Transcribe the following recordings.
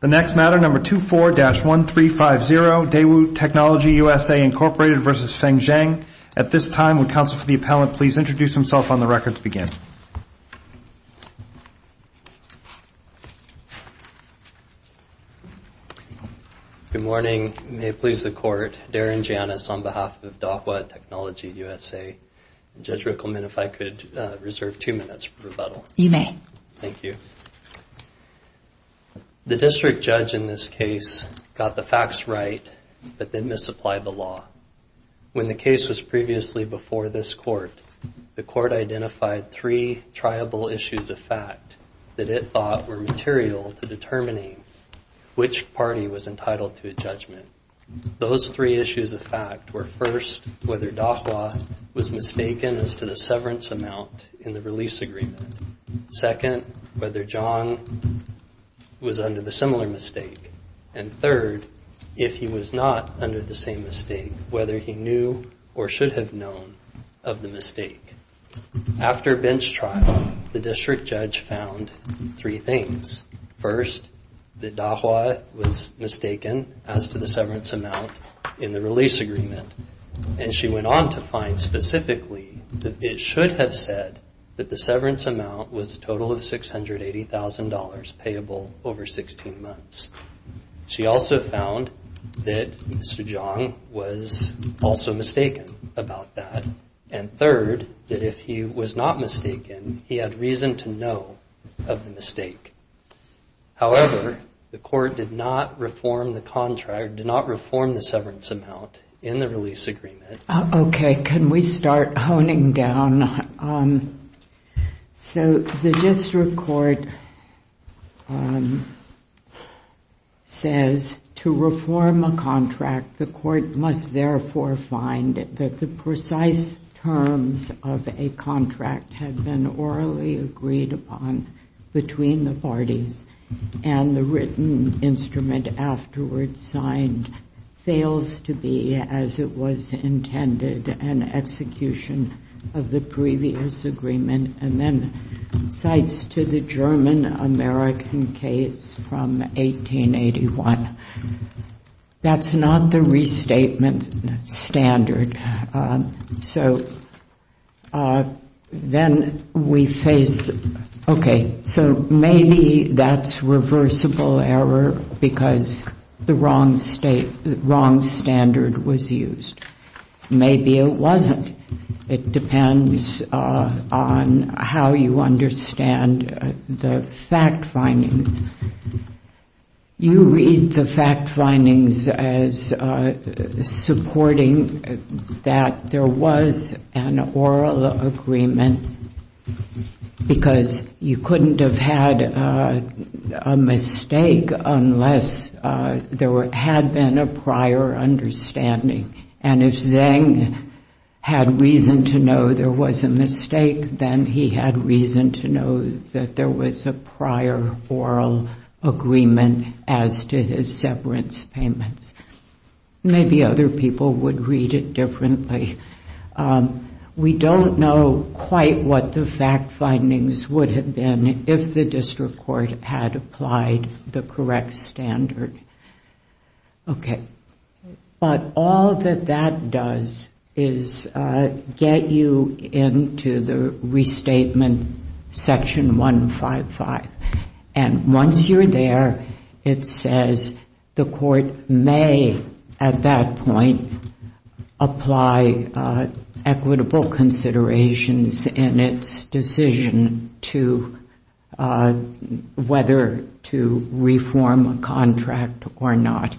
The next matter, number 24-1350, Daewoo Technology USA, Inc. v. Feng Zhang. At this time, would counsel for the appellant please introduce himself on the record to begin. Good morning. May it please the Court. Darren Janis on behalf of Dahua Technology USA. Judge Rickleman, if I could reserve two minutes for rebuttal. You may. Thank you. The district judge in this case got the facts right, but then misapplied the law. When the case was previously before this Court, the Court identified three triable issues of fact that it thought were material to determining which party was entitled to a judgment. Those three issues of fact were, first, whether Dahua was mistaken as to the severance amount in the release agreement. Second, whether Zhang was under the similar mistake. And third, if he was not under the same mistake, whether he knew or should have known of the mistake. After bench trial, the district judge found three things. First, that Dahua was mistaken as to the severance amount in the release agreement. And she went on to find specifically that it should have said that the severance amount was a total of $680,000 payable over 16 months. She also found that Mr. Zhang was also mistaken about that. And third, that if he was not mistaken, he had reason to know of the mistake. However, the Court did not reform the contract, did not reform the severance amount in the release agreement. Okay, can we start honing down? So the district court says to reform a contract, the court must therefore find that the precise terms of a contract had been orally agreed upon between the parties, and the written instrument afterwards signed fails to be as it was intended an execution of the previous agreement, and then cites to the German-American case from 1881. That's not the restatement standard. So then we face, okay, so maybe that's reversible error because the wrong standard was used. Maybe it wasn't. It depends on how you understand the fact findings. You read the fact findings as supporting that there was an oral agreement because you couldn't have had a mistake unless there had been a prior understanding. And if Zhang had reason to know there was a mistake, then he had reason to know that there was a prior oral agreement as to his severance payments. Maybe other people would read it differently. We don't know quite what the fact findings would have been if the district court had applied the correct standard. Okay. But all that that does is get you into the restatement section 155. And once you're there, it says the court may, at that point, apply equitable considerations in its decision to whether to reform a contract or not.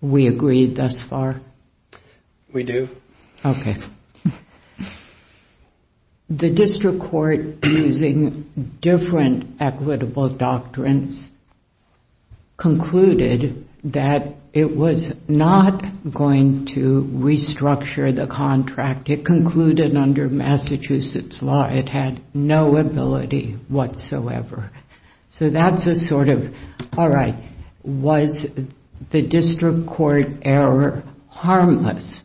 We agree thus far? We do. Okay. The district court, using different equitable doctrines, concluded that it was not going to restructure the contract. It concluded under Massachusetts law it had no ability whatsoever. So that's a sort of, all right, was the district court error harmless?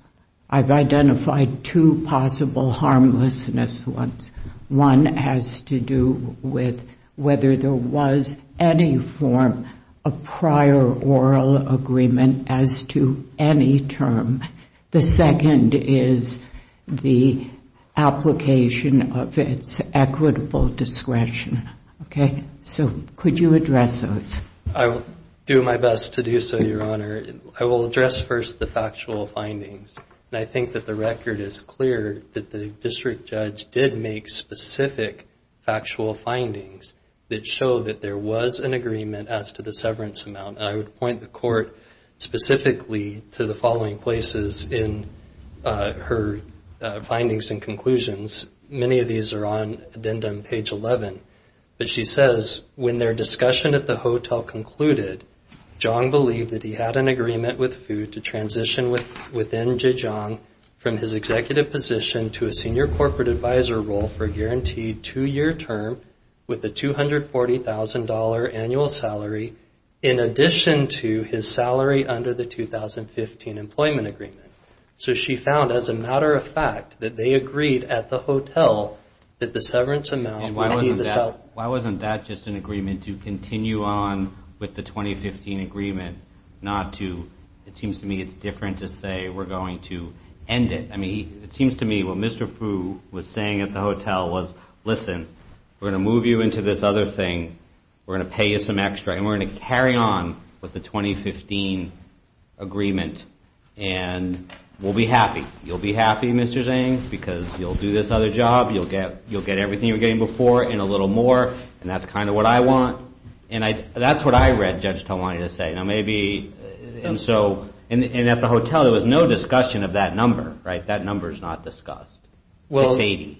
I've identified two possible harmlessness ones. One has to do with whether there was any form of prior oral agreement as to any term. The second is the application of its equitable discretion. Okay. So could you address those? I will do my best to do so, Your Honor. I will address first the factual findings. And I think that the record is clear that the district judge did make specific factual findings that show that there was an agreement as to the severance amount. And I would point the court specifically to the following places in her findings and conclusions. Many of these are on addendum page 11. But she says, when their discussion at the hotel concluded, Zhang believed that he had an agreement with food to transition within Zhejiang from his executive position to a senior corporate advisor role for a guaranteed two-year term with a $240,000 annual salary in addition to his salary under the 2015 employment agreement. So she found, as a matter of fact, that they agreed at the hotel that the severance amount Why wasn't that just an agreement to continue on with the 2015 agreement, not to It seems to me it's different to say we're going to end it. I mean, it seems to me what Mr. Fu was saying at the hotel was, Listen, we're going to move you into this other thing. We're going to pay you some extra. And we're going to carry on with the 2015 agreement. And we'll be happy. You'll be happy, Mr. Zhang, because you'll do this other job. You'll get everything you were getting before and a little more. And that's kind of what I want. And that's what I read Judge Tong wanted to say. And at the hotel, there was no discussion of that number, right? That number is not discussed. $680,000.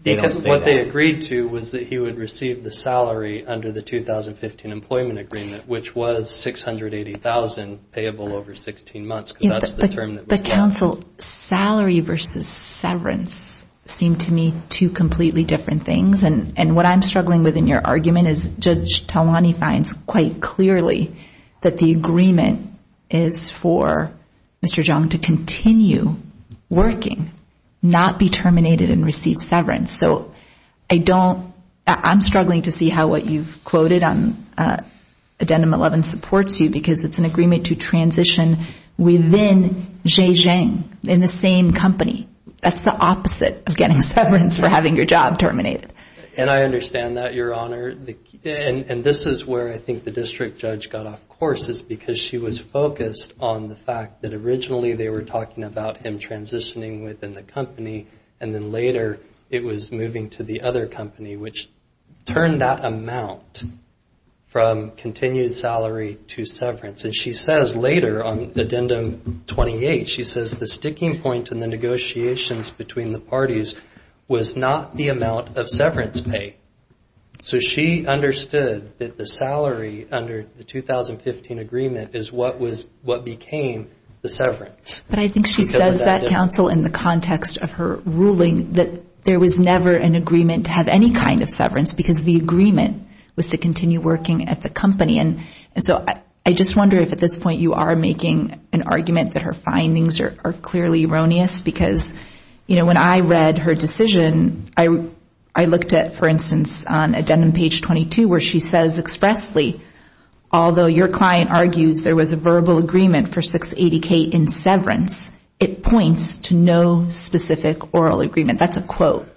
Because what they agreed to was that he would receive the salary under the 2015 employment agreement, which was $680,000 payable over 16 months, because that's the term that was given. Judge Counsel, salary versus severance seem to me two completely different things. And what I'm struggling with in your argument is Judge Talwani finds quite clearly that the agreement is for Mr. Zhang to continue working, not be terminated and receive severance. So I don't – I'm struggling to see how what you've quoted on Addendum 11 supports you, because it's an agreement to transition within Zhe Zhang in the same company. That's the opposite of getting severance for having your job terminated. And I understand that, Your Honor. And this is where I think the district judge got off course, is because she was focused on the fact that originally they were talking about him transitioning within the company, and then later it was moving to the other company, which turned that amount from continued salary to severance. And she says later on Addendum 28, she says the sticking point in the negotiations between the parties was not the amount of severance pay. So she understood that the salary under the 2015 agreement is what became the severance. But I think she says that, Counsel, in the context of her ruling, that there was never an agreement to have any kind of severance, because the agreement was to continue working at the company. And so I just wonder if at this point you are making an argument that her findings are clearly erroneous, because, you know, when I read her decision, I looked at, for instance, on Addendum page 22 where she says expressly, although your client argues there was a verbal agreement for 680K in severance, it points to no specific oral agreement. That's a quote.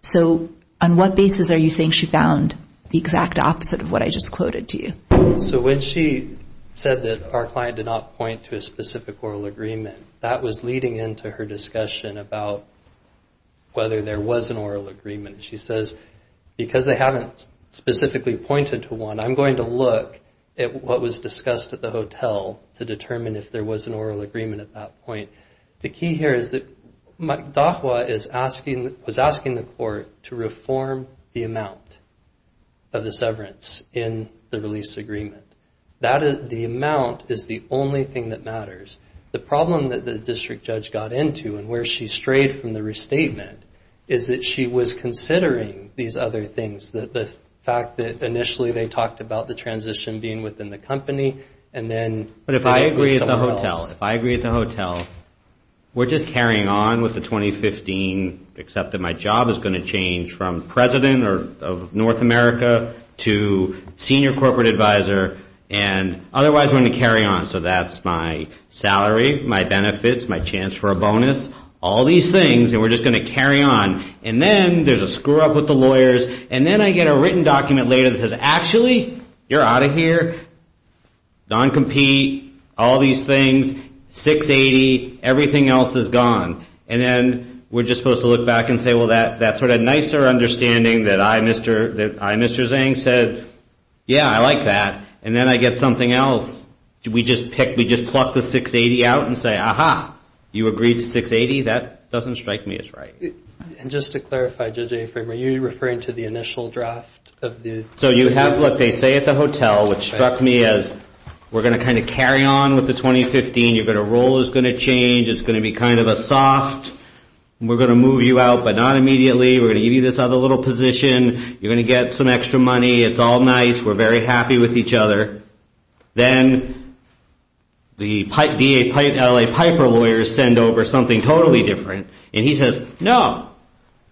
So on what basis are you saying she found the exact opposite of what I just quoted to you? So when she said that our client did not point to a specific oral agreement, that was leading into her discussion about whether there was an oral agreement. She says, because they haven't specifically pointed to one, I'm going to look at what was discussed at the hotel to determine if there was an oral agreement at that point. The key here is that Dahua was asking the court to reform the amount of the severance in the release agreement. The amount is the only thing that matters. The problem that the district judge got into and where she strayed from the restatement is that she was considering these other things, the fact that initially they talked about the transition being within the company. But if I agree at the hotel, we're just carrying on with the 2015, except that my job is going to change from president of North America to senior corporate advisor, and otherwise we're going to carry on. So that's my salary, my benefits, my chance for a bonus, all these things, and we're just going to carry on. And then there's a screw-up with the lawyers. And then I get a written document later that says, actually, you're out of here, non-compete, all these things, 680, everything else is gone. And then we're just supposed to look back and say, well, that's sort of a nicer understanding that I, Mr. Zhang, said, yeah, I like that. And then I get something else. We just pluck the 680 out and say, aha, you agreed to 680? That doesn't strike me as right. And just to clarify, JJ, are you referring to the initial draft? So you have what they say at the hotel, which struck me as, we're going to kind of carry on with the 2015. Your role is going to change. It's going to be kind of a soft, we're going to move you out, but not immediately. We're going to give you this other little position. You're going to get some extra money. It's all nice. We're very happy with each other. Then the LA Piper lawyers send over something totally different. And he says, no.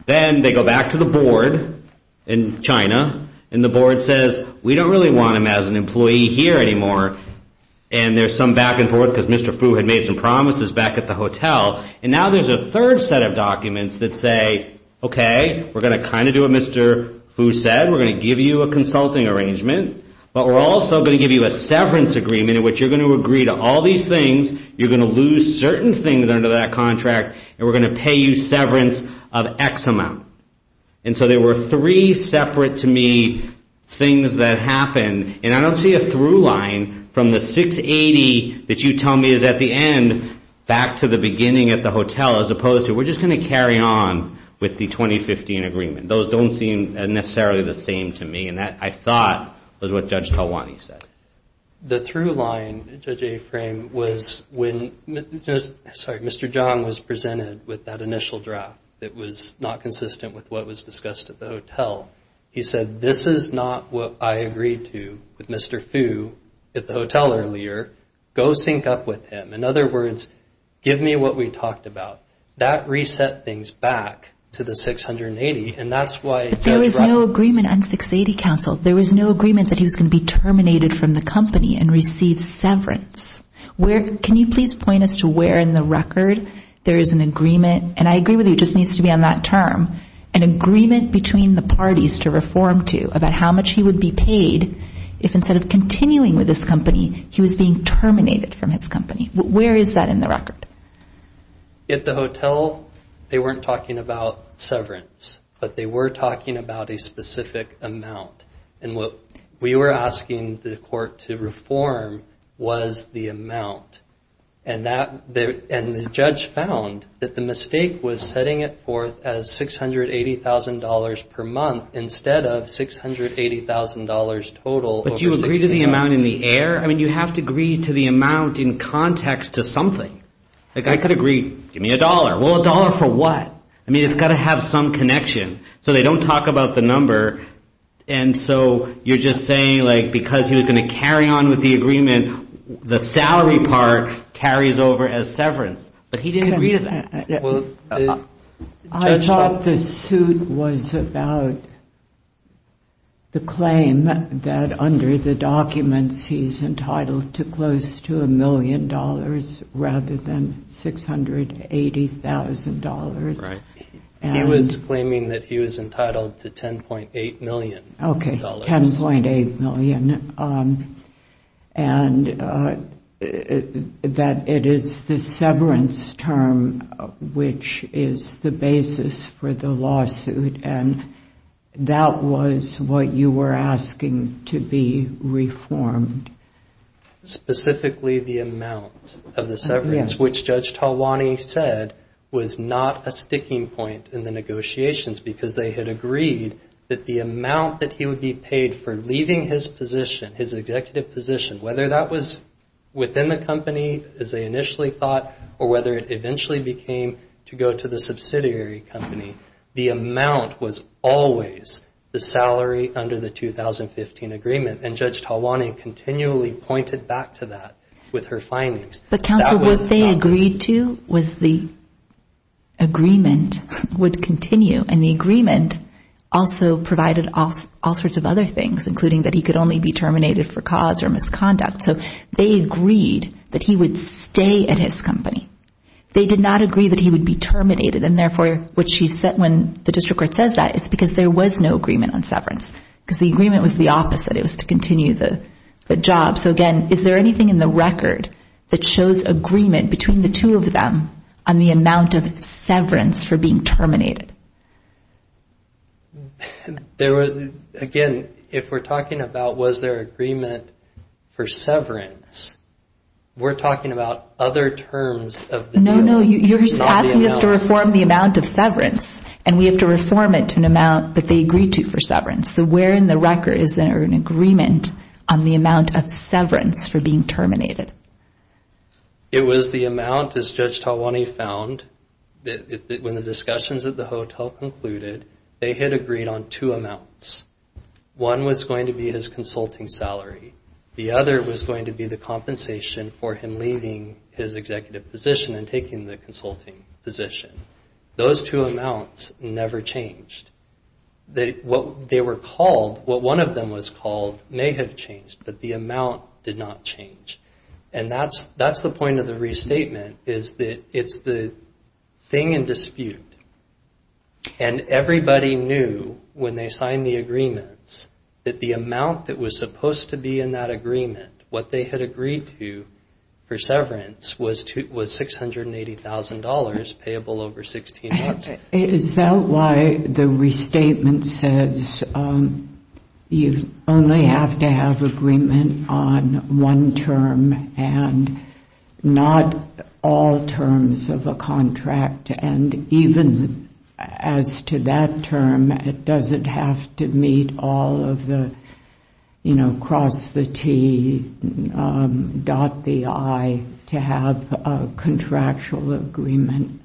Then they go back to the board in China, and the board says, we don't really want him as an employee here anymore. And there's some back and forth because Mr. Fu had made some promises back at the hotel. And now there's a third set of documents that say, okay, we're going to kind of do what Mr. Fu said. We're going to give you a consulting arrangement. But we're also going to give you a severance agreement, in which you're going to agree to all these things. You're going to lose certain things under that contract. And we're going to pay you severance of X amount. And so there were three separate to me things that happened. And I don't see a through line from the 680 that you tell me is at the end, back to the beginning at the hotel, as opposed to we're just going to carry on with the 2015 agreement. Those don't seem necessarily the same to me. And that, I thought, was what Judge Talwani said. The through line, Judge Aframe, was when Mr. Zhang was presented with that initial draft that was not consistent with what was discussed at the hotel. He said, this is not what I agreed to with Mr. Fu at the hotel earlier. Go sync up with him. In other words, give me what we talked about. That reset things back to the 680. But there was no agreement on 680, counsel. There was no agreement that he was going to be terminated from the company and receive severance. Can you please point us to where in the record there is an agreement, and I agree with you, it just needs to be on that term, an agreement between the parties to reform to about how much he would be paid if instead of continuing with his company, he was being terminated from his company. Where is that in the record? At the hotel, they weren't talking about severance, but they were talking about a specific amount. And what we were asking the court to reform was the amount. And the judge found that the mistake was setting it forth as $680,000 per month instead of $680,000 total. But you agreed to the amount in the air? I mean, you have to agree to the amount in context to something. Like I could agree, give me a dollar. Well, a dollar for what? I mean, it's got to have some connection. So they don't talk about the number. And so you're just saying like because he was going to carry on with the agreement, the salary part carries over as severance. But he didn't agree to that. I thought the suit was about the claim that under the documents, he's entitled to close to a million dollars rather than $680,000. He was claiming that he was entitled to $10.8 million. Okay, $10.8 million. And that it is the severance term which is the basis for the lawsuit. And that was what you were asking to be reformed. Specifically the amount of the severance, which Judge Talwani said was not a sticking point in the negotiations because they had agreed that the amount that he would be paid for leaving his position, his executive position, whether that was within the company as they initially thought or whether it eventually became to go to the subsidiary company, the amount was always the salary under the 2015 agreement. And Judge Talwani continually pointed back to that with her findings. But, Counsel, what they agreed to was the agreement would continue. And the agreement also provided all sorts of other things, including that he could only be terminated for cause or misconduct. So they agreed that he would stay at his company. They did not agree that he would be terminated. And, therefore, when the district court says that, it's because there was no agreement on severance because the agreement was the opposite. It was to continue the job. So, again, is there anything in the record that shows agreement between the two of them on the amount of severance for being terminated? Again, if we're talking about was there agreement for severance, we're talking about other terms of the deal. No, no. You're asking us to reform the amount of severance, and we have to reform it to an amount that they agreed to for severance. So where in the record is there an agreement on the amount of severance for being terminated? It was the amount, as Judge Talwani found, when the discussions at the hotel concluded, they had agreed on two amounts. One was going to be his consulting salary. The other was going to be the compensation for him leaving his executive position and taking the consulting position. Those two amounts never changed. What they were called, what one of them was called, may have changed, but the amount did not change. And that's the point of the restatement is that it's the thing in dispute. And everybody knew when they signed the agreements that the amount that was supposed to be in that agreement, what they had agreed to for severance, was $680,000 payable over 16 months. Is that why the restatement says you only have to have agreement on one term and not all terms of a contract? And even as to that term, does it have to meet all of the, you know, cross the T, dot the I to have a contractual agreement?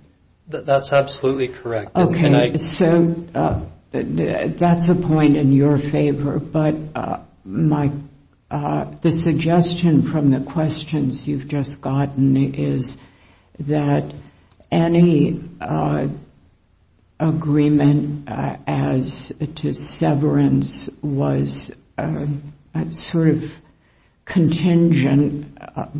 That's absolutely correct. Okay, so that's a point in your favor, but the suggestion from the questions you've just gotten is that any agreement as to severance was sort of contingent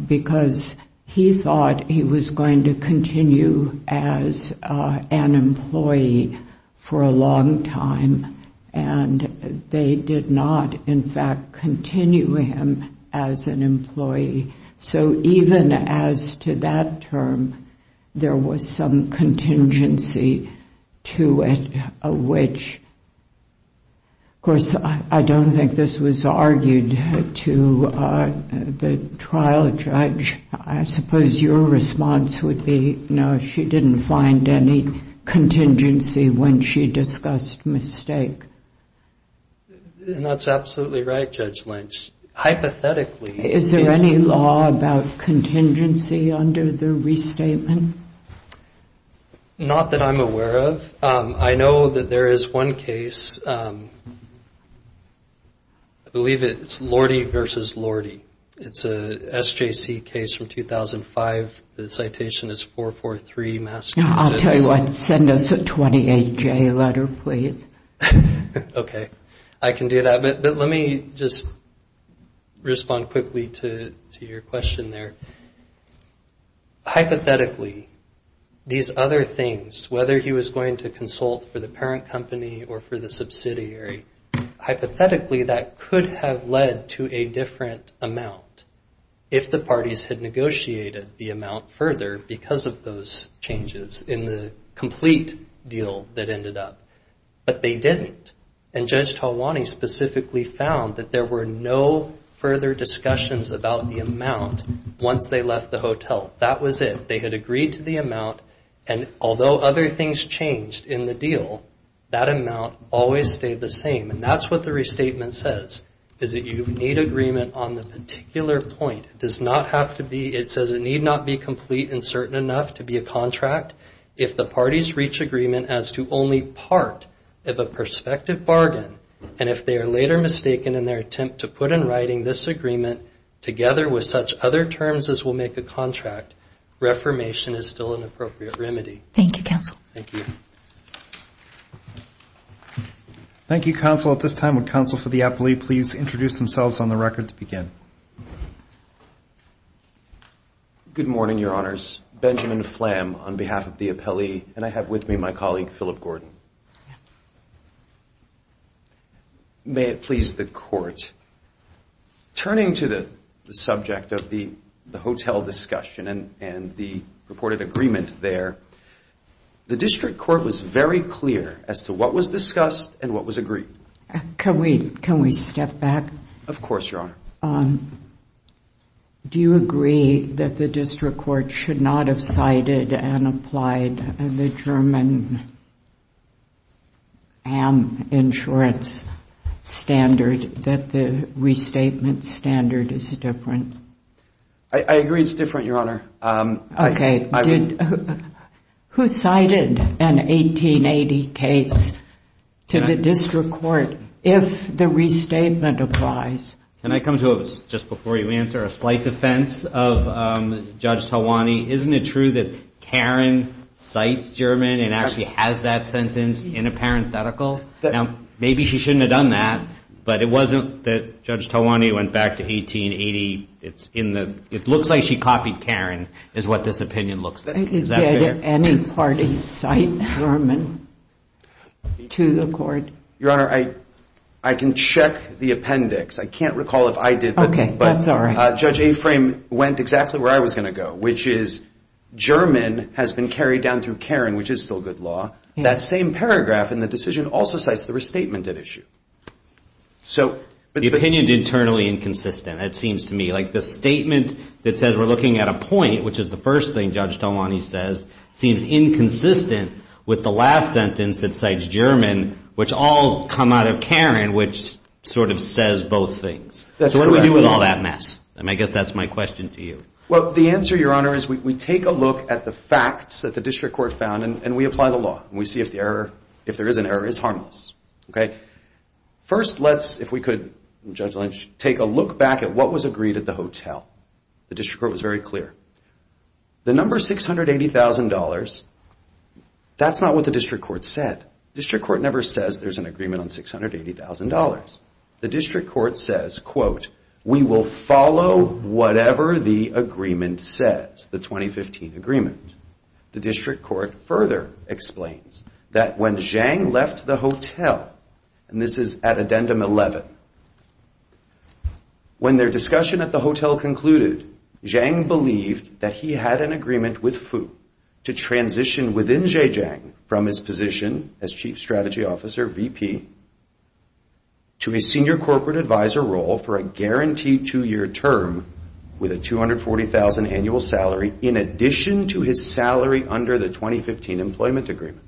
because he thought he was going to continue as an employee for a long time, and they did not, in fact, continue him as an employee. So even as to that term, there was some contingency to it, which, of course, I don't think this was argued to the trial judge. I suppose your response would be, no, she didn't find any contingency when she discussed mistake. And that's absolutely right, Judge Lynch. Hypothetically. Is there any law about contingency under the restatement? Not that I'm aware of. I know that there is one case, I believe it's Lordy v. Lordy. It's a SJC case from 2005. The citation is 443, Massachusetts. I'll tell you what, send us a 28-J letter, please. Okay, I can do that. But let me just respond quickly to your question there. Hypothetically, these other things, whether he was going to consult for the parent company or for the subsidiary, hypothetically that could have led to a different amount if the parties had negotiated the amount further because of those changes in the complete deal that ended up. But they didn't. And Judge Talwani specifically found that there were no further discussions about the amount once they left the hotel. That was it. They had agreed to the amount, and although other things changed in the deal, that amount always stayed the same. And that's what the restatement says, is that you need agreement on the particular point. It says it need not be complete and certain enough to be a contract. If the parties reach agreement as to only part of a prospective bargain, and if they are later mistaken in their attempt to put in writing this agreement together with such other terms as will make a contract, reformation is still an appropriate remedy. Thank you, Counsel. Thank you. Thank you. Thank you, Counsel. At this time, would Counsel for the Appellee please introduce themselves on the record to begin? Good morning, Your Honors. Benjamin Flam on behalf of the Appellee, and I have with me my colleague, Philip Gordon. May it please the Court. Turning to the subject of the hotel discussion and the reported agreement there, the District Court was very clear as to what was discussed and what was agreed. Can we step back? Of course, Your Honor. Do you agree that the District Court should not have cited and applied the German insurance standard, that the restatement standard is different? I agree it's different, Your Honor. Okay. Who cited an 1880 case to the District Court if the restatement applies? Can I come to it just before you answer? A slight defense of Judge Talwani. Isn't it true that Taron cites German and actually has that sentence in a parenthetical? Now, maybe she shouldn't have done that, but it wasn't that Judge Talwani went back to 1880. It looks like she copied Taron is what this opinion looks like. Did any party cite German to the Court? Your Honor, I can check the appendix. I can't recall if I did. Okay, that's all right. But Judge Aframe went exactly where I was going to go, which is German has been carried down through Taron, which is still good law. That same paragraph in the decision also cites the restatement at issue. The opinion is internally inconsistent, it seems to me. Like the statement that says we're looking at a point, which is the first thing Judge Talwani says, seems inconsistent with the last sentence that cites German, which all come out of Taron, which sort of says both things. That's correct. So what do we do with all that mess? And I guess that's my question to you. Well, the answer, Your Honor, is we take a look at the facts that the District Court found and we apply the law and we see if there is an error. It's harmless. First, let's, if we could, Judge Lynch, take a look back at what was agreed at the hotel. The District Court was very clear. The number $680,000, that's not what the District Court said. The District Court never says there's an agreement on $680,000. The District Court says, quote, we will follow whatever the agreement says, the 2015 agreement. The District Court further explains that when Zhang left the hotel, and this is at Addendum 11, when their discussion at the hotel concluded, Zhang believed that he had an agreement with Fu to transition within Zhejiang from his position as Chief Strategy Officer, VP, to a Senior Corporate Advisor role for a guaranteed two-year term with a $240,000 annual salary in addition to his salary under the 2015 employment agreement.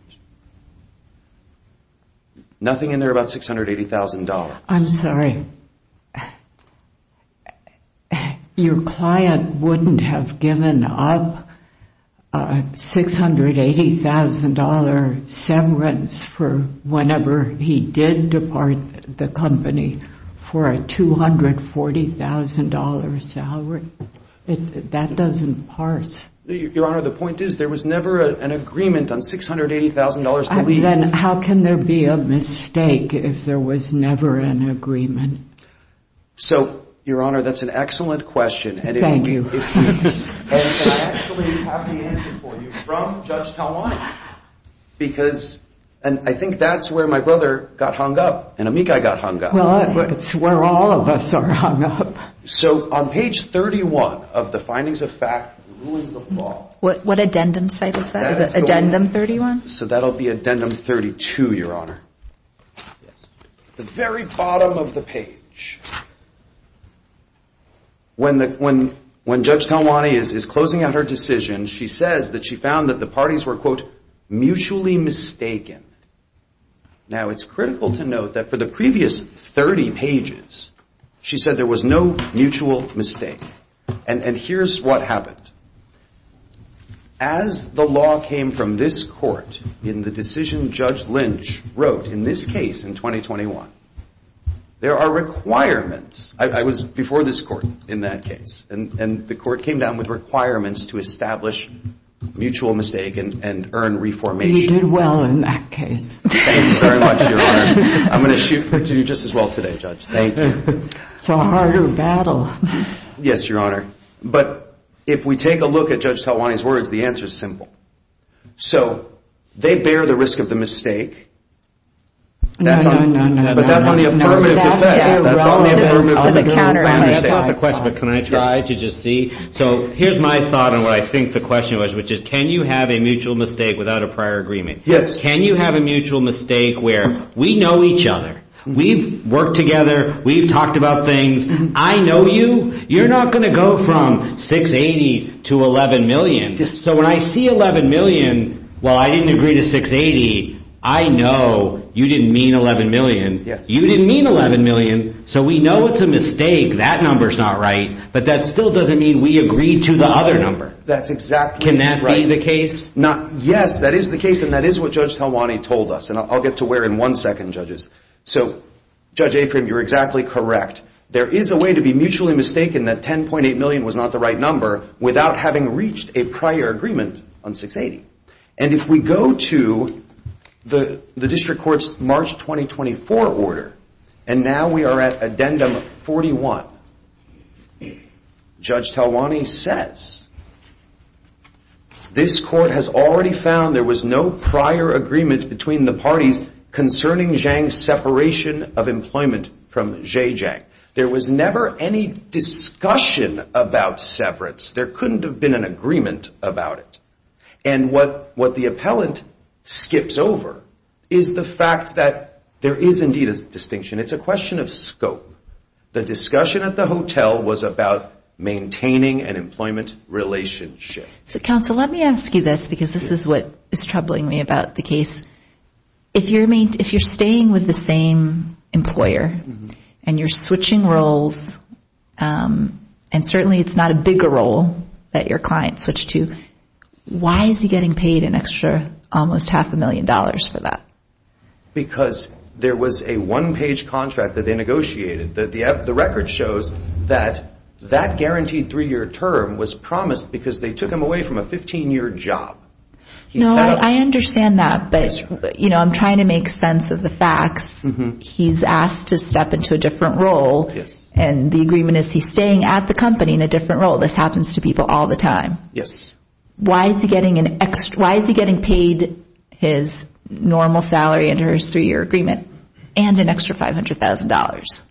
Nothing in there about $680,000. I'm sorry. Your client wouldn't have given up $680,000 severance for whenever he did depart the company for a $240,000 salary. That doesn't parse. Your Honor, the point is there was never an agreement on $680,000. Then how can there be a mistake if there was never an agreement? So, Your Honor, that's an excellent question. Thank you. I actually have the answer for you from Judge Talwani. Because, and I think that's where my brother got hung up and Amikai got hung up. Well, it's where all of us are hung up. So, on page 31 of the Findings of Fact, Ruins of Law. What addendum site is that? Is it Addendum 31? So, that'll be Addendum 32, Your Honor. The very bottom of the page. When Judge Talwani is closing out her decision, she says that she found that the parties were, quote, mutually mistaken. Now, it's critical to note that for the previous 30 pages, she said there was no mutual mistake. And here's what happened. As the law came from this court, in the decision Judge Lynch wrote in this case in 2021, there are requirements. I was before this court in that case. And the court came down with requirements to establish mutual mistake and earn reformation. You did well in that case. Thank you very much, Your Honor. I'm going to shoot for you just as well today, Judge. Thank you. It's a harder battle. Yes, Your Honor. But if we take a look at Judge Talwani's words, the answer is simple. So, they bear the risk of the mistake. No, no, no. But that's on the affirmative defense. That's on the affirmative defense. I understand. That's not the question, but can I try to just see? So, here's my thought on what I think the question was, which is can you have a mutual mistake without a prior agreement? Yes. Can you have a mutual mistake where we know each other, we've worked together, we've talked about things. I know you. You're not going to go from 680 to 11 million. So, when I see 11 million, while I didn't agree to 680, I know you didn't mean 11 million. Yes. You didn't mean 11 million, so we know it's a mistake. That number's not right, but that still doesn't mean we agreed to the other number. That's exactly right. Can that be the case? Yes, that is the case, and that is what Judge Talwani told us, and I'll get to where in one second, judges. So, Judge Aprim, you're exactly correct. There is a way to be mutually mistaken that 10.8 million was not the right number without having reached a prior agreement on 680. And if we go to the district court's March 2024 order, and now we are at addendum 41, Judge Talwani says, this court has already found there was no prior agreement between the parties concerning Zhang's separation of employment from Zhe Zhang. There was never any discussion about severance. There couldn't have been an agreement about it. And what the appellant skips over is the fact that there is indeed a distinction. It's a question of scope. The discussion at the hotel was about maintaining an employment relationship. So, counsel, let me ask you this, because this is what is troubling me about the case. If you're staying with the same employer, and you're switching roles, and certainly it's not a bigger role that your client switched to, why is he getting paid an extra almost half a million dollars for that? Because there was a one-page contract that they negotiated. The record shows that that guaranteed three-year term was promised because they took him away from a 15-year job. No, I understand that, but I'm trying to make sense of the facts. He's asked to step into a different role, and the agreement is he's staying at the company in a different role. This happens to people all the time. Why is he getting paid his normal salary under his three-year agreement and an extra $500,000?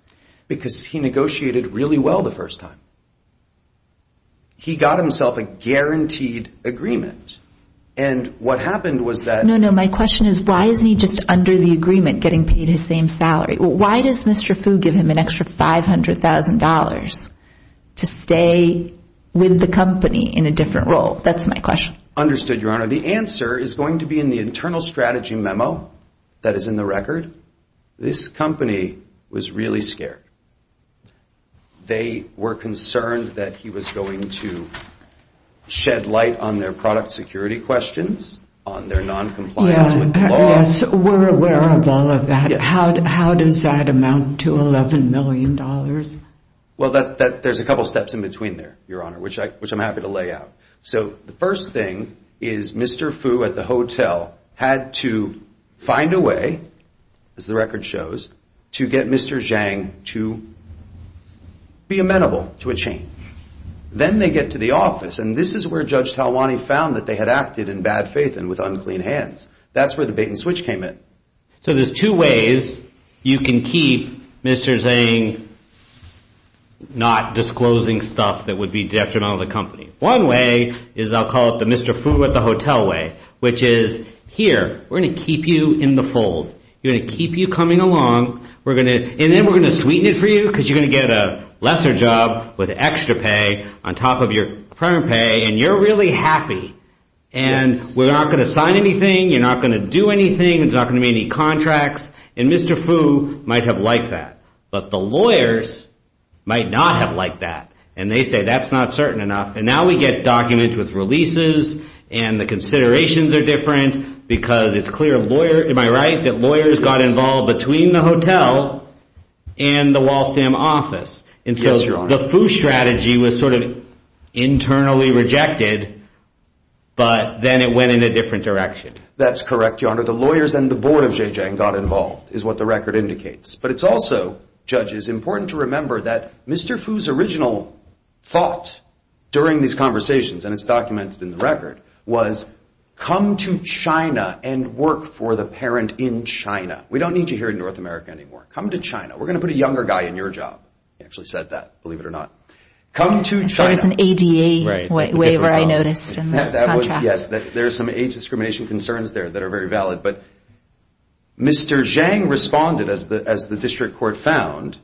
Because he negotiated really well the first time. He got himself a guaranteed agreement. And what happened was that... My question is, why isn't he just under the agreement getting paid his same salary? Why does Mr. Fu give him an extra $500,000 to stay with the company in a different role? That's my question. Understood, Your Honor. The answer is going to be in the internal strategy memo that is in the record. This company was really scared. They were concerned that he was going to shed light on their product security questions, on their noncompliance with the laws. Yes, we're aware of all of that. How does that amount to $11 million? Well, there's a couple steps in between there, Your Honor, which I'm happy to lay out. So the first thing is Mr. Fu at the hotel had to find a way, as the record shows, to get Mr. Zhang to be amenable to a change. Then they get to the office, and this is where Judge Talwani found that they had acted in bad faith and with unclean hands. That's where the bait and switch came in. So there's two ways you can keep Mr. Zhang not disclosing stuff that would be detrimental to the company. One way is I'll call it the Mr. Fu at the hotel way, which is, here, we're going to keep you in the fold. We're going to keep you coming along, and then we're going to sweeten it for you because you're going to get a lesser job with extra pay on top of your current pay, and you're really happy. We're not going to sign anything. You're not going to do anything. There's not going to be any contracts, and Mr. Fu might have liked that, but the lawyers might not have liked that, and they say that's not certain enough. Now we get documents with releases, and the considerations are different because it's clear, am I right, that lawyers got involved between the hotel and the Waltham office. Yes, Your Honor. So the Fu strategy was sort of internally rejected, but then it went in a different direction. That's correct, Your Honor. The lawyers and the board of Zhejiang got involved is what the record indicates, but it's also, judges, important to remember that Mr. Fu's original thought during these conversations, and it's documented in the record, was come to China and work for the parent in China. We don't need you here in North America anymore. Come to China. We're going to put a younger guy in your job. He actually said that, believe it or not. Come to China. I thought it was an ADA waiver I noticed in the contract. Yes, there are some age discrimination concerns there that are very valid, but Mr. Zhejiang responded, as the district court found,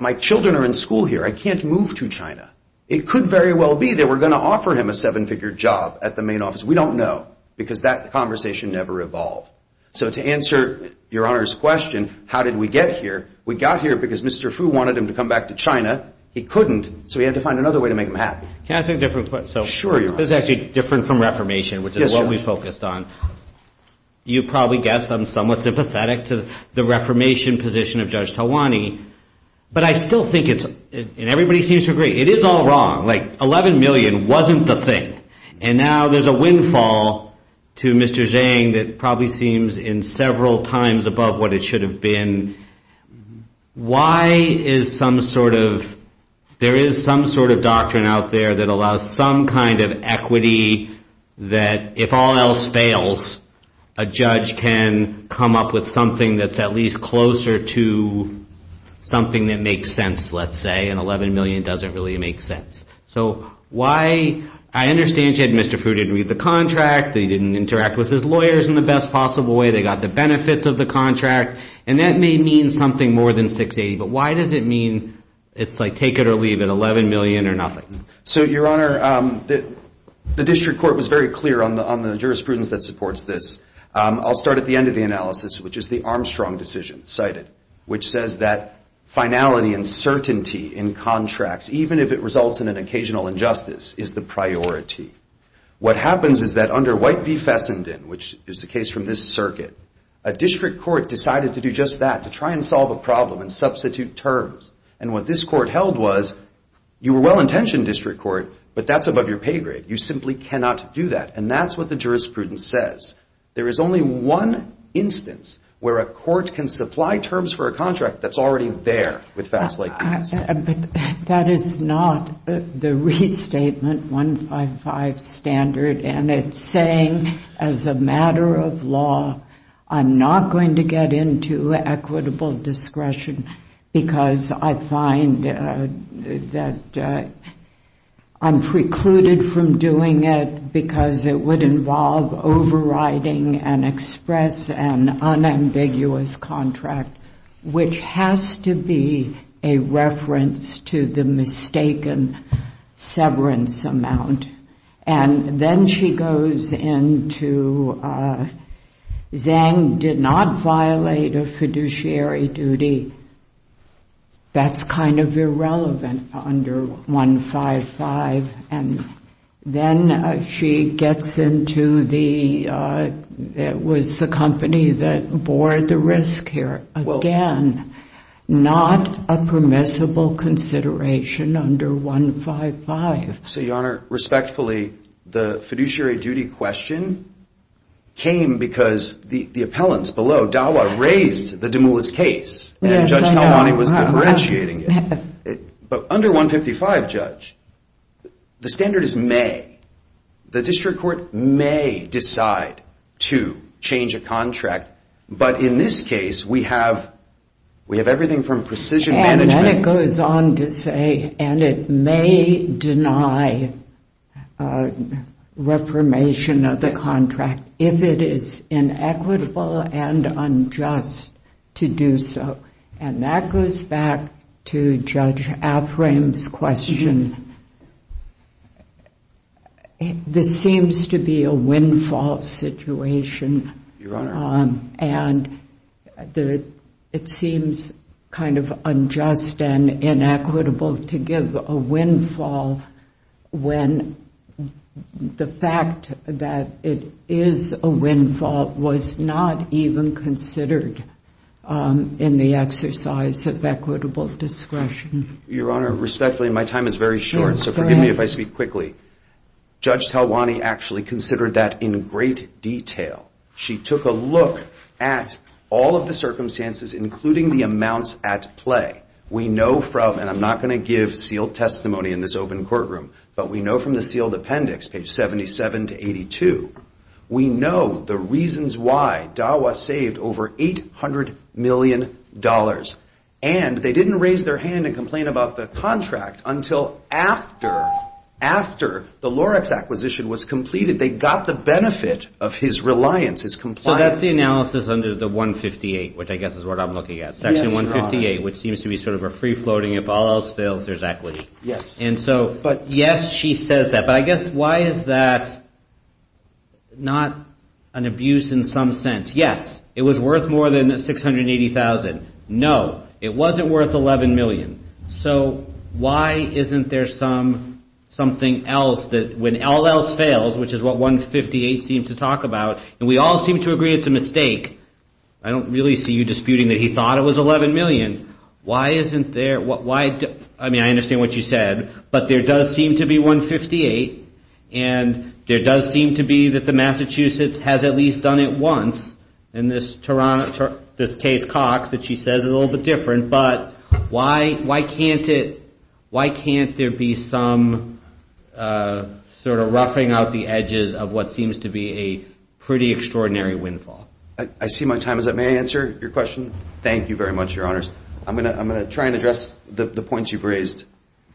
my children are in school here. I can't move to China. It could very well be that we're going to offer him a seven-figure job at the main office. We don't know because that conversation never evolved. So to answer Your Honor's question, how did we get here, we got here because Mr. Fu wanted him to come back to China. He couldn't, so we had to find another way to make him happy. Can I ask a different question? Sure, Your Honor. This is actually different from reformation, which is what we focused on. You probably guessed I'm somewhat sympathetic to the reformation position of Judge Talwani, but I still think it's, and everybody seems to agree, it is all wrong. Like $11 million wasn't the thing, and now there's a windfall to Mr. Zhejiang that probably seems in several times above what it should have been. Why is some sort of, there is some sort of doctrine out there that allows some kind of equity that, if all else fails, a judge can come up with something that's at least closer to something that makes sense, let's say, and $11 million doesn't really make sense. So why, I understand you had Mr. Fu didn't read the contract, he didn't interact with his lawyers in the best possible way, they got the benefits of the contract, and that may mean something more than $680,000, but why does it mean it's like take it or leave it, $11 million or nothing? So, Your Honor, the district court was very clear on the jurisprudence that supports this. I'll start at the end of the analysis, which is the Armstrong decision cited, which says that finality and certainty in contracts, even if it results in an occasional injustice, is the priority. What happens is that under White v. Fessenden, which is the case from this circuit, a district court decided to do just that, to try and solve a problem and substitute terms. And what this court held was, you were well-intentioned, district court, but that's above your pay grade, you simply cannot do that. And that's what the jurisprudence says. There is only one instance where a court can supply terms for a contract that's already there with facts like these. But that is not the restatement 155 standard, and it's saying as a matter of law I'm not going to get into equitable discretion because I find that I'm precluded from doing it because it would involve overriding an express and unambiguous contract, which has to be a reference to the mistaken severance amount. And then she goes into Zhang did not violate a fiduciary duty. That's kind of irrelevant under 155. And then she gets into the company that bore the risk here. Again, not a permissible consideration under 155. So, Your Honor, respectfully, the fiduciary duty question came because the appellants below, Dawa, raised the Dumoulis case, and Judge Helwani was differentiating it. But under 155, Judge, the standard is may. The district court may decide to change a contract, but in this case we have everything from precision management. And then it goes on to say, and it may deny reformation of the contract if it is inequitable and unjust to do so. And that goes back to Judge Afram's question. This seems to be a windfall situation. And it seems kind of unjust and inequitable to give a windfall when the fact that it is a windfall was not even considered in the exercise of equitable discretion. Your Honor, respectfully, my time is very short, so forgive me if I speak quickly. Judge Helwani actually considered that in great detail. She took a look at all of the circumstances, including the amounts at play. We know from, and I'm not going to give sealed testimony in this open courtroom, but we know from the sealed appendix, page 77 to 82, we know the reasons why Dawa saved over $800 million. And they didn't raise their hand and complain about the contract until after the Lorex acquisition was completed. They got the benefit of his reliance, his compliance. So that's the analysis under the 158, which I guess is what I'm looking at. Section 158, which seems to be sort of a free-floating, if all else fails, there's equity. Yes. And so, yes, she says that. But I guess why is that not an abuse in some sense? Yes, it was worth more than $680,000. No, it wasn't worth $11 million. So why isn't there something else that when all else fails, which is what 158 seems to talk about, and we all seem to agree it's a mistake, I don't really see you disputing that he thought it was $11 million. Why isn't there? I mean, I understand what you said, but there does seem to be 158, and there does seem to be that the Massachusetts has at least done it once, and this Case-Cox that she says is a little bit different, but why can't there be some sort of roughing out the edges of what seems to be a pretty extraordinary windfall? I see my time is up. May I answer your question? Thank you very much, Your Honors. I'm going to try and address the points you've raised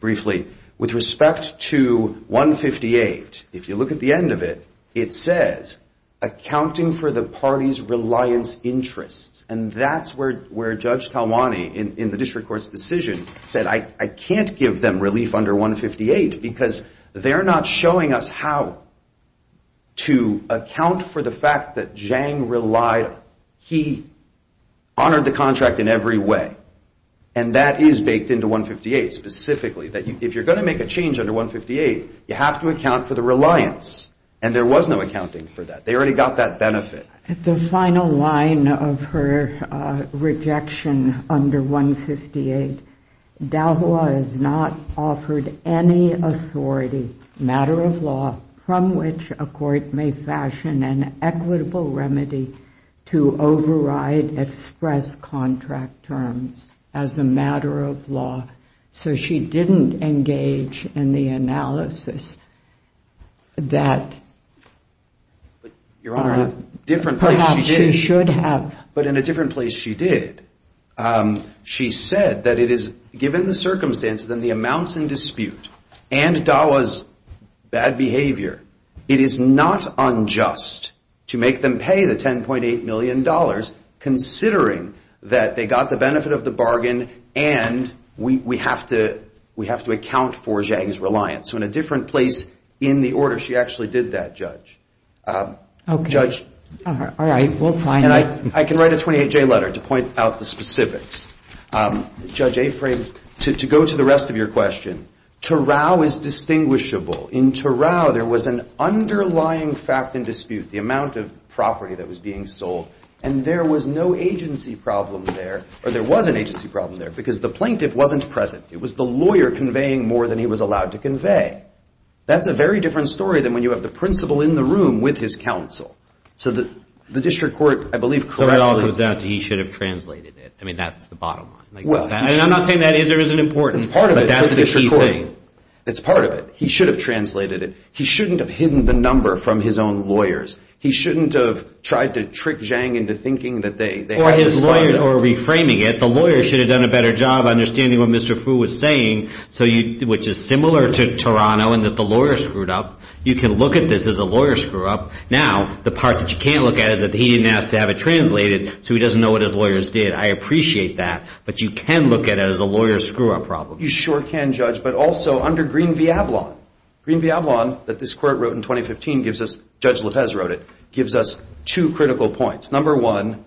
briefly. With respect to 158, if you look at the end of it, it says, accounting for the party's reliance interests, and that's where Judge Talwani in the district court's decision said, I can't give them relief under 158 because they're not showing us how to account for the fact that Zhang relied. He honored the contract in every way, and that is baked into 158, specifically that if you're going to make a change under 158, you have to account for the reliance, and there was no accounting for that. They already got that benefit. At the final line of her rejection under 158, Dahua has not offered any authority, matter of law, from which a court may fashion an equitable remedy to override express contract terms as a matter of law, so she didn't engage in the analysis that Your Honor, in a different place she did. Perhaps she should have. But in a different place she did. She said that it is given the circumstances and the amounts in dispute and Dahua's bad behavior, it is not unjust to make them pay the $10.8 million considering that they got the benefit of the bargain and we have to account for Zhang's reliance. So in a different place in the order she actually did that, Judge. Okay. All right. We'll find out. And I can write a 28-J letter to point out the specifics. Judge Aframe, to go to the rest of your question, Turao is distinguishable. In Turao there was an underlying fact in dispute, the amount of property that was being sold, and there was no agency problem there, or there was an agency problem there because the plaintiff wasn't present. It was the lawyer conveying more than he was allowed to convey. That's a very different story than when you have the principal in the room with his counsel. So the district court, I believe, correctly So it all comes down to he should have translated it. I mean, that's the bottom line. And I'm not saying that is or isn't important. It's part of it. But that's the key thing. It's part of it. He should have translated it. He shouldn't have hidden the number from his own lawyers. He shouldn't have tried to trick Zhang into thinking that they had this product. Or his lawyer, or reframing it, that the lawyer should have done a better job understanding what Mr. Fu was saying, which is similar to Turao in that the lawyer screwed up. You can look at this as a lawyer screw-up. Now, the part that you can't look at is that he didn't ask to have it translated, so he doesn't know what his lawyers did. I appreciate that. But you can look at it as a lawyer screw-up problem. You sure can, Judge. But also under Green Viablon, Green Viablon that this court wrote in 2015 gives us, Judge Lopez wrote it, gives us two critical points. Number one,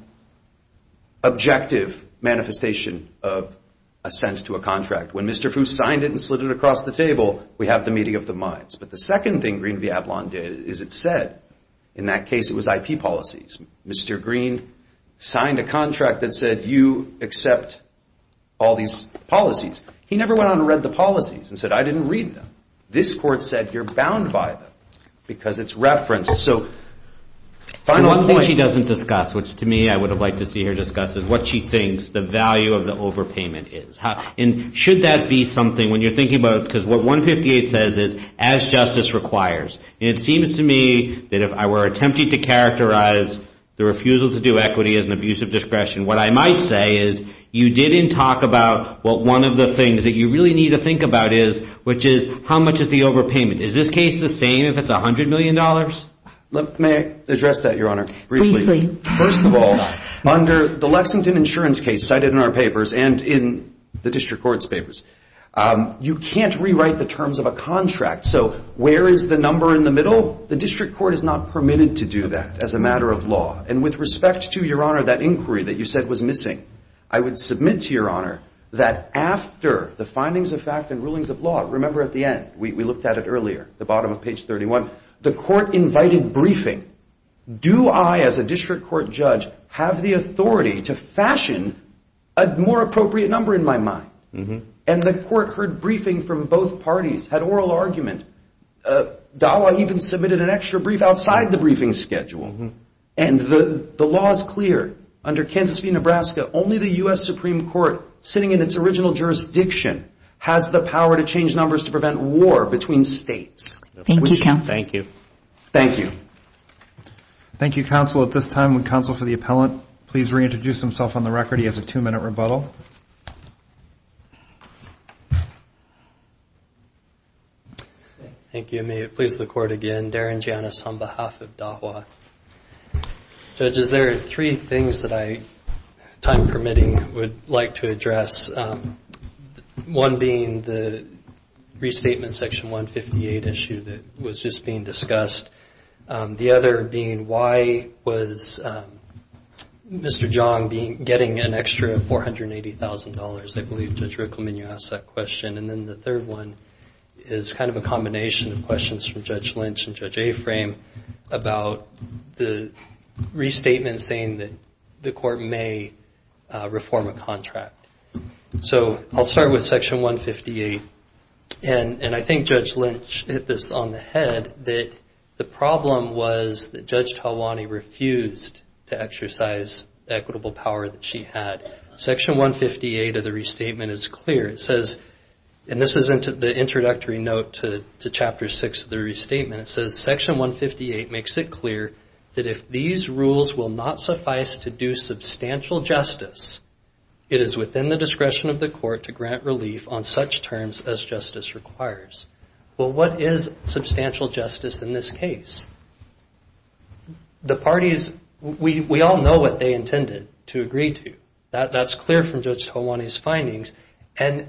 objective manifestation of assent to a contract. When Mr. Fu signed it and slid it across the table, we have the meeting of the minds. But the second thing Green Viablon did is it said in that case it was IP policies. Mr. Green signed a contract that said you accept all these policies. He never went on to read the policies and said I didn't read them. This court said you're bound by them because it's referenced. One thing she doesn't discuss, which to me I would have liked to see her discuss, is what she thinks the value of the overpayment is. And should that be something, when you're thinking about it, because what 158 says is as justice requires. It seems to me that if I were attempting to characterize the refusal to do equity as an abuse of discretion, what I might say is you didn't talk about what one of the things that you really need to think about is, which is how much is the overpayment. Is this case the same if it's $100 million? May I address that, Your Honor, briefly? First of all, under the Lexington insurance case cited in our papers and in the district court's papers, you can't rewrite the terms of a contract. So where is the number in the middle? The district court is not permitted to do that as a matter of law. And with respect to, Your Honor, that inquiry that you said was missing, I would submit to Your Honor that after the findings of fact and rulings of law, remember at the end, we looked at it earlier, the bottom of page 31, the court invited briefing. Do I, as a district court judge, have the authority to fashion a more appropriate number in my mind? And the court heard briefing from both parties, had oral argument. DAWA even submitted an extra brief outside the briefing schedule. And the law is clear. Under Kansas v. Nebraska, only the U.S. Supreme Court, sitting in its original jurisdiction, has the power to change numbers to prevent war between states. Thank you, counsel. Thank you. Thank you. Thank you, counsel. At this time, would counsel for the appellant please reintroduce himself on the record? He has a two-minute rebuttal. Thank you. May it please the Court again. Darren Janis on behalf of DAWA. Judges, there are three things that I, time permitting, would like to address. One being the restatement section 158 issue that was just being discussed. The other being why was Mr. Jong getting an extra $480,000? I believe Judge Ricklamen, you asked that question. And then the third one is kind of a combination of questions from Judge Lynch and Judge Aframe about the restatement saying that the Court may reform a contract. So I'll start with Section 158. And I think Judge Lynch hit this on the head that the problem was that Judge Talwani refused to exercise the equitable power that she had. Section 158 of the restatement is clear. It says, and this is the introductory note to Chapter 6 of the restatement, it says Section 158 makes it clear that if these rules will not suffice to do substantial justice, it is within the discretion of the Court to grant relief on such terms as justice requires. Well, what is substantial justice in this case? The parties, we all know what they intended to agree to. That's clear from Judge Talwani's findings. And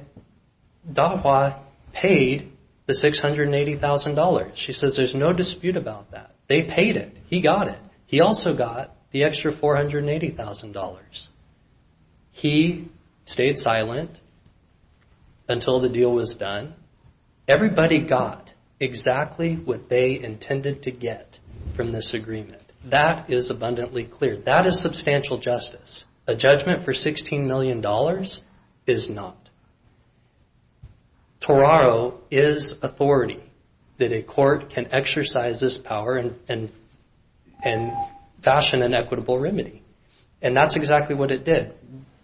Dahua paid the $680,000. She says there's no dispute about that. They paid it. He got it. He also got the extra $480,000. He stayed silent until the deal was done. Everybody got exactly what they intended to get from this agreement. That is abundantly clear. That is substantial justice. A judgment for $16 million is not. Toraro is authority that a court can exercise this power and fashion an equitable remedy. And that's exactly what it did.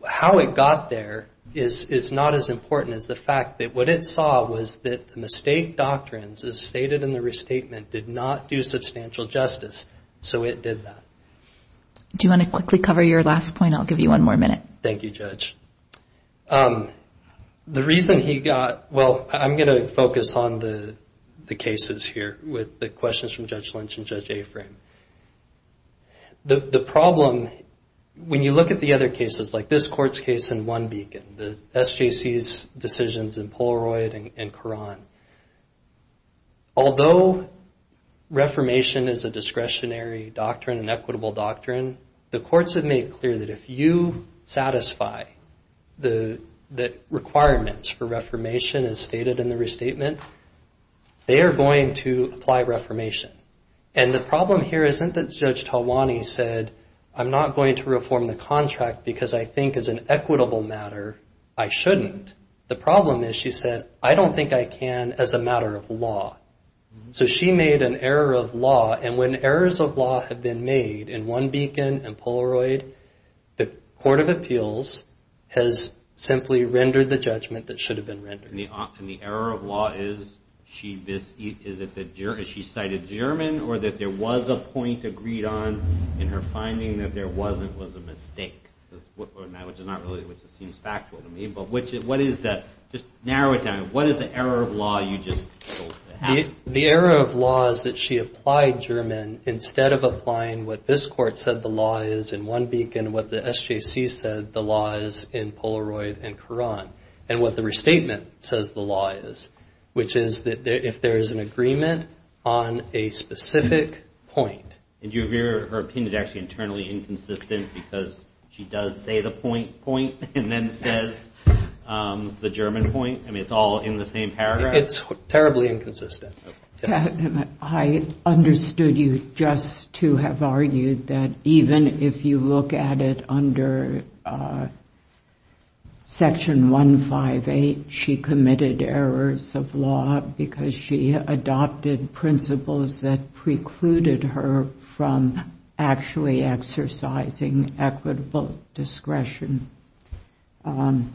How it got there is not as important as the fact that what it saw was that the mistake doctrines, as stated in the restatement, did not do substantial justice. So it did that. Do you want to quickly cover your last point? I'll give you one more minute. Thank you, Judge. The reason he got, well, I'm going to focus on the cases here with the questions from Judge Lynch and Judge Aframe. The problem, when you look at the other cases, like this court's case in One Beacon, the SJC's decisions in Polaroid and Quran, although reformation is a discretionary doctrine, an equitable doctrine, the courts have made clear that if you satisfy the requirements for reformation, as stated in the restatement, they are going to apply reformation. And the problem here isn't that Judge Talwani said, I'm not going to reform the contract because I think as an equitable matter I shouldn't. The problem is she said, I don't think I can as a matter of law. So she made an error of law. And when errors of law have been made in One Beacon and Polaroid, the Court of Appeals has simply rendered the judgment that should have been rendered. And the error of law is she cited German or that there was a point agreed on and her finding that there wasn't was a mistake, which seems factual to me. But just narrow it down. What is the error of law you just have? The error of law is that she applied German instead of applying what this court said the law is in One Beacon, what the SJC said the law is in Polaroid and Quran, and what the restatement says the law is, which is that if there is an agreement on a specific point. And her opinion is actually internally inconsistent because she does say the point point and then says the German point. I mean, it's all in the same paragraph. It's terribly inconsistent. I understood you just to have argued that even if you look at it under Section 158, she committed errors of law because she adopted principles that precluded her from actually exercising equitable discretion. And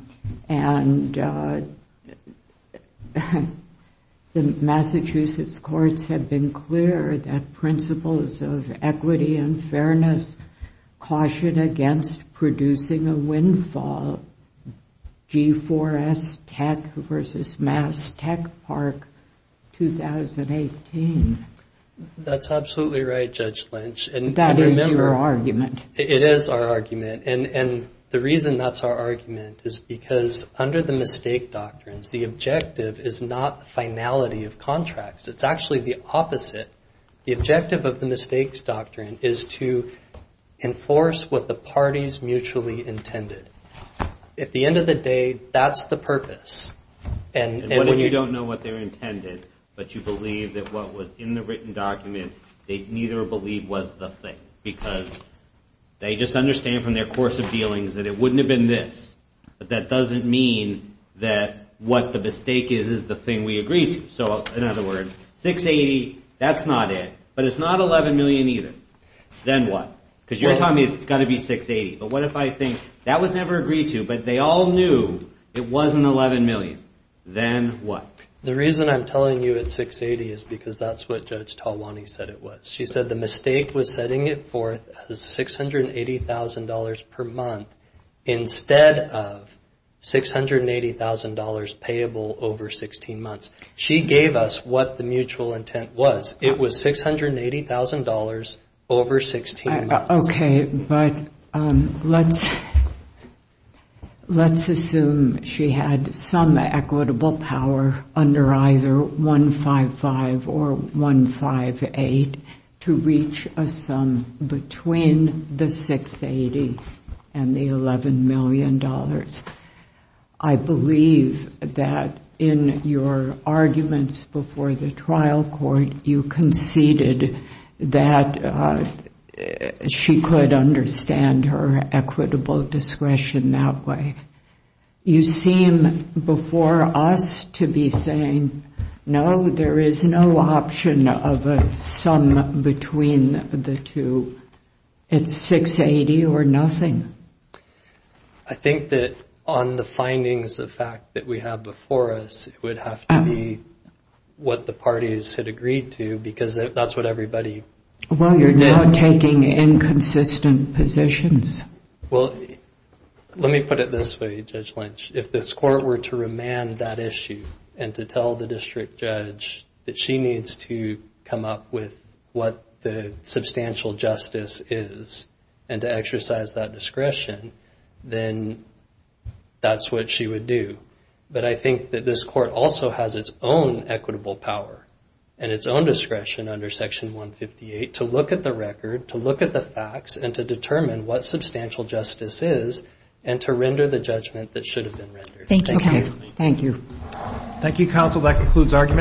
the Massachusetts courts have been clear that principles of equity and fairness caution against producing a windfall. G4S Tech versus Mass Tech Park 2018. That's absolutely right, Judge Lynch. And that is your argument. It is our argument. And the reason that's our argument is because under the mistake doctrines, the objective is not the finality of contracts. It's actually the opposite. The objective of the mistakes doctrine is to enforce what the parties mutually intended. At the end of the day, that's the purpose. And when you don't know what they intended, but you believe that what was in the written document, they neither believe was the thing. Because they just understand from their course of dealings that it wouldn't have been this. But that doesn't mean that what the mistake is is the thing we agreed to. So, in other words, 680, that's not it. But it's not 11 million either. Then what? Because you're telling me it's got to be 680. But what if I think that was never agreed to, but they all knew it wasn't 11 million. Then what? The reason I'm telling you it's 680 is because that's what Judge Talwani said it was. She said the mistake was setting it forth as $680,000 per month instead of $680,000 payable over 16 months. She gave us what the mutual intent was. It was $680,000 over 16 months. Okay, but let's assume she had some equitable power under either 155 or 158 to reach a sum between the 680 and the $11 million. I believe that in your arguments before the trial court, you conceded that she could understand her equitable discretion that way. You seem, before us, to be saying, no, there is no option of a sum between the two. It's 680 or nothing. I think that on the findings of fact that we have before us, it would have to be what the parties had agreed to because that's what everybody did. Well, you're now taking inconsistent positions. Let me put it this way, Judge Lynch. If this court were to remand that issue and to tell the district judge that she needs to come up with what the substantial justice is and to exercise that discretion, then that's what she would do. But I think that this court also has its own equitable power and its own discretion under Section 158 to look at the record, to look at the facts, and to determine what substantial justice is and to render the judgment that should have been rendered. Thank you, counsel. Thank you. Thank you, counsel. That concludes arguments.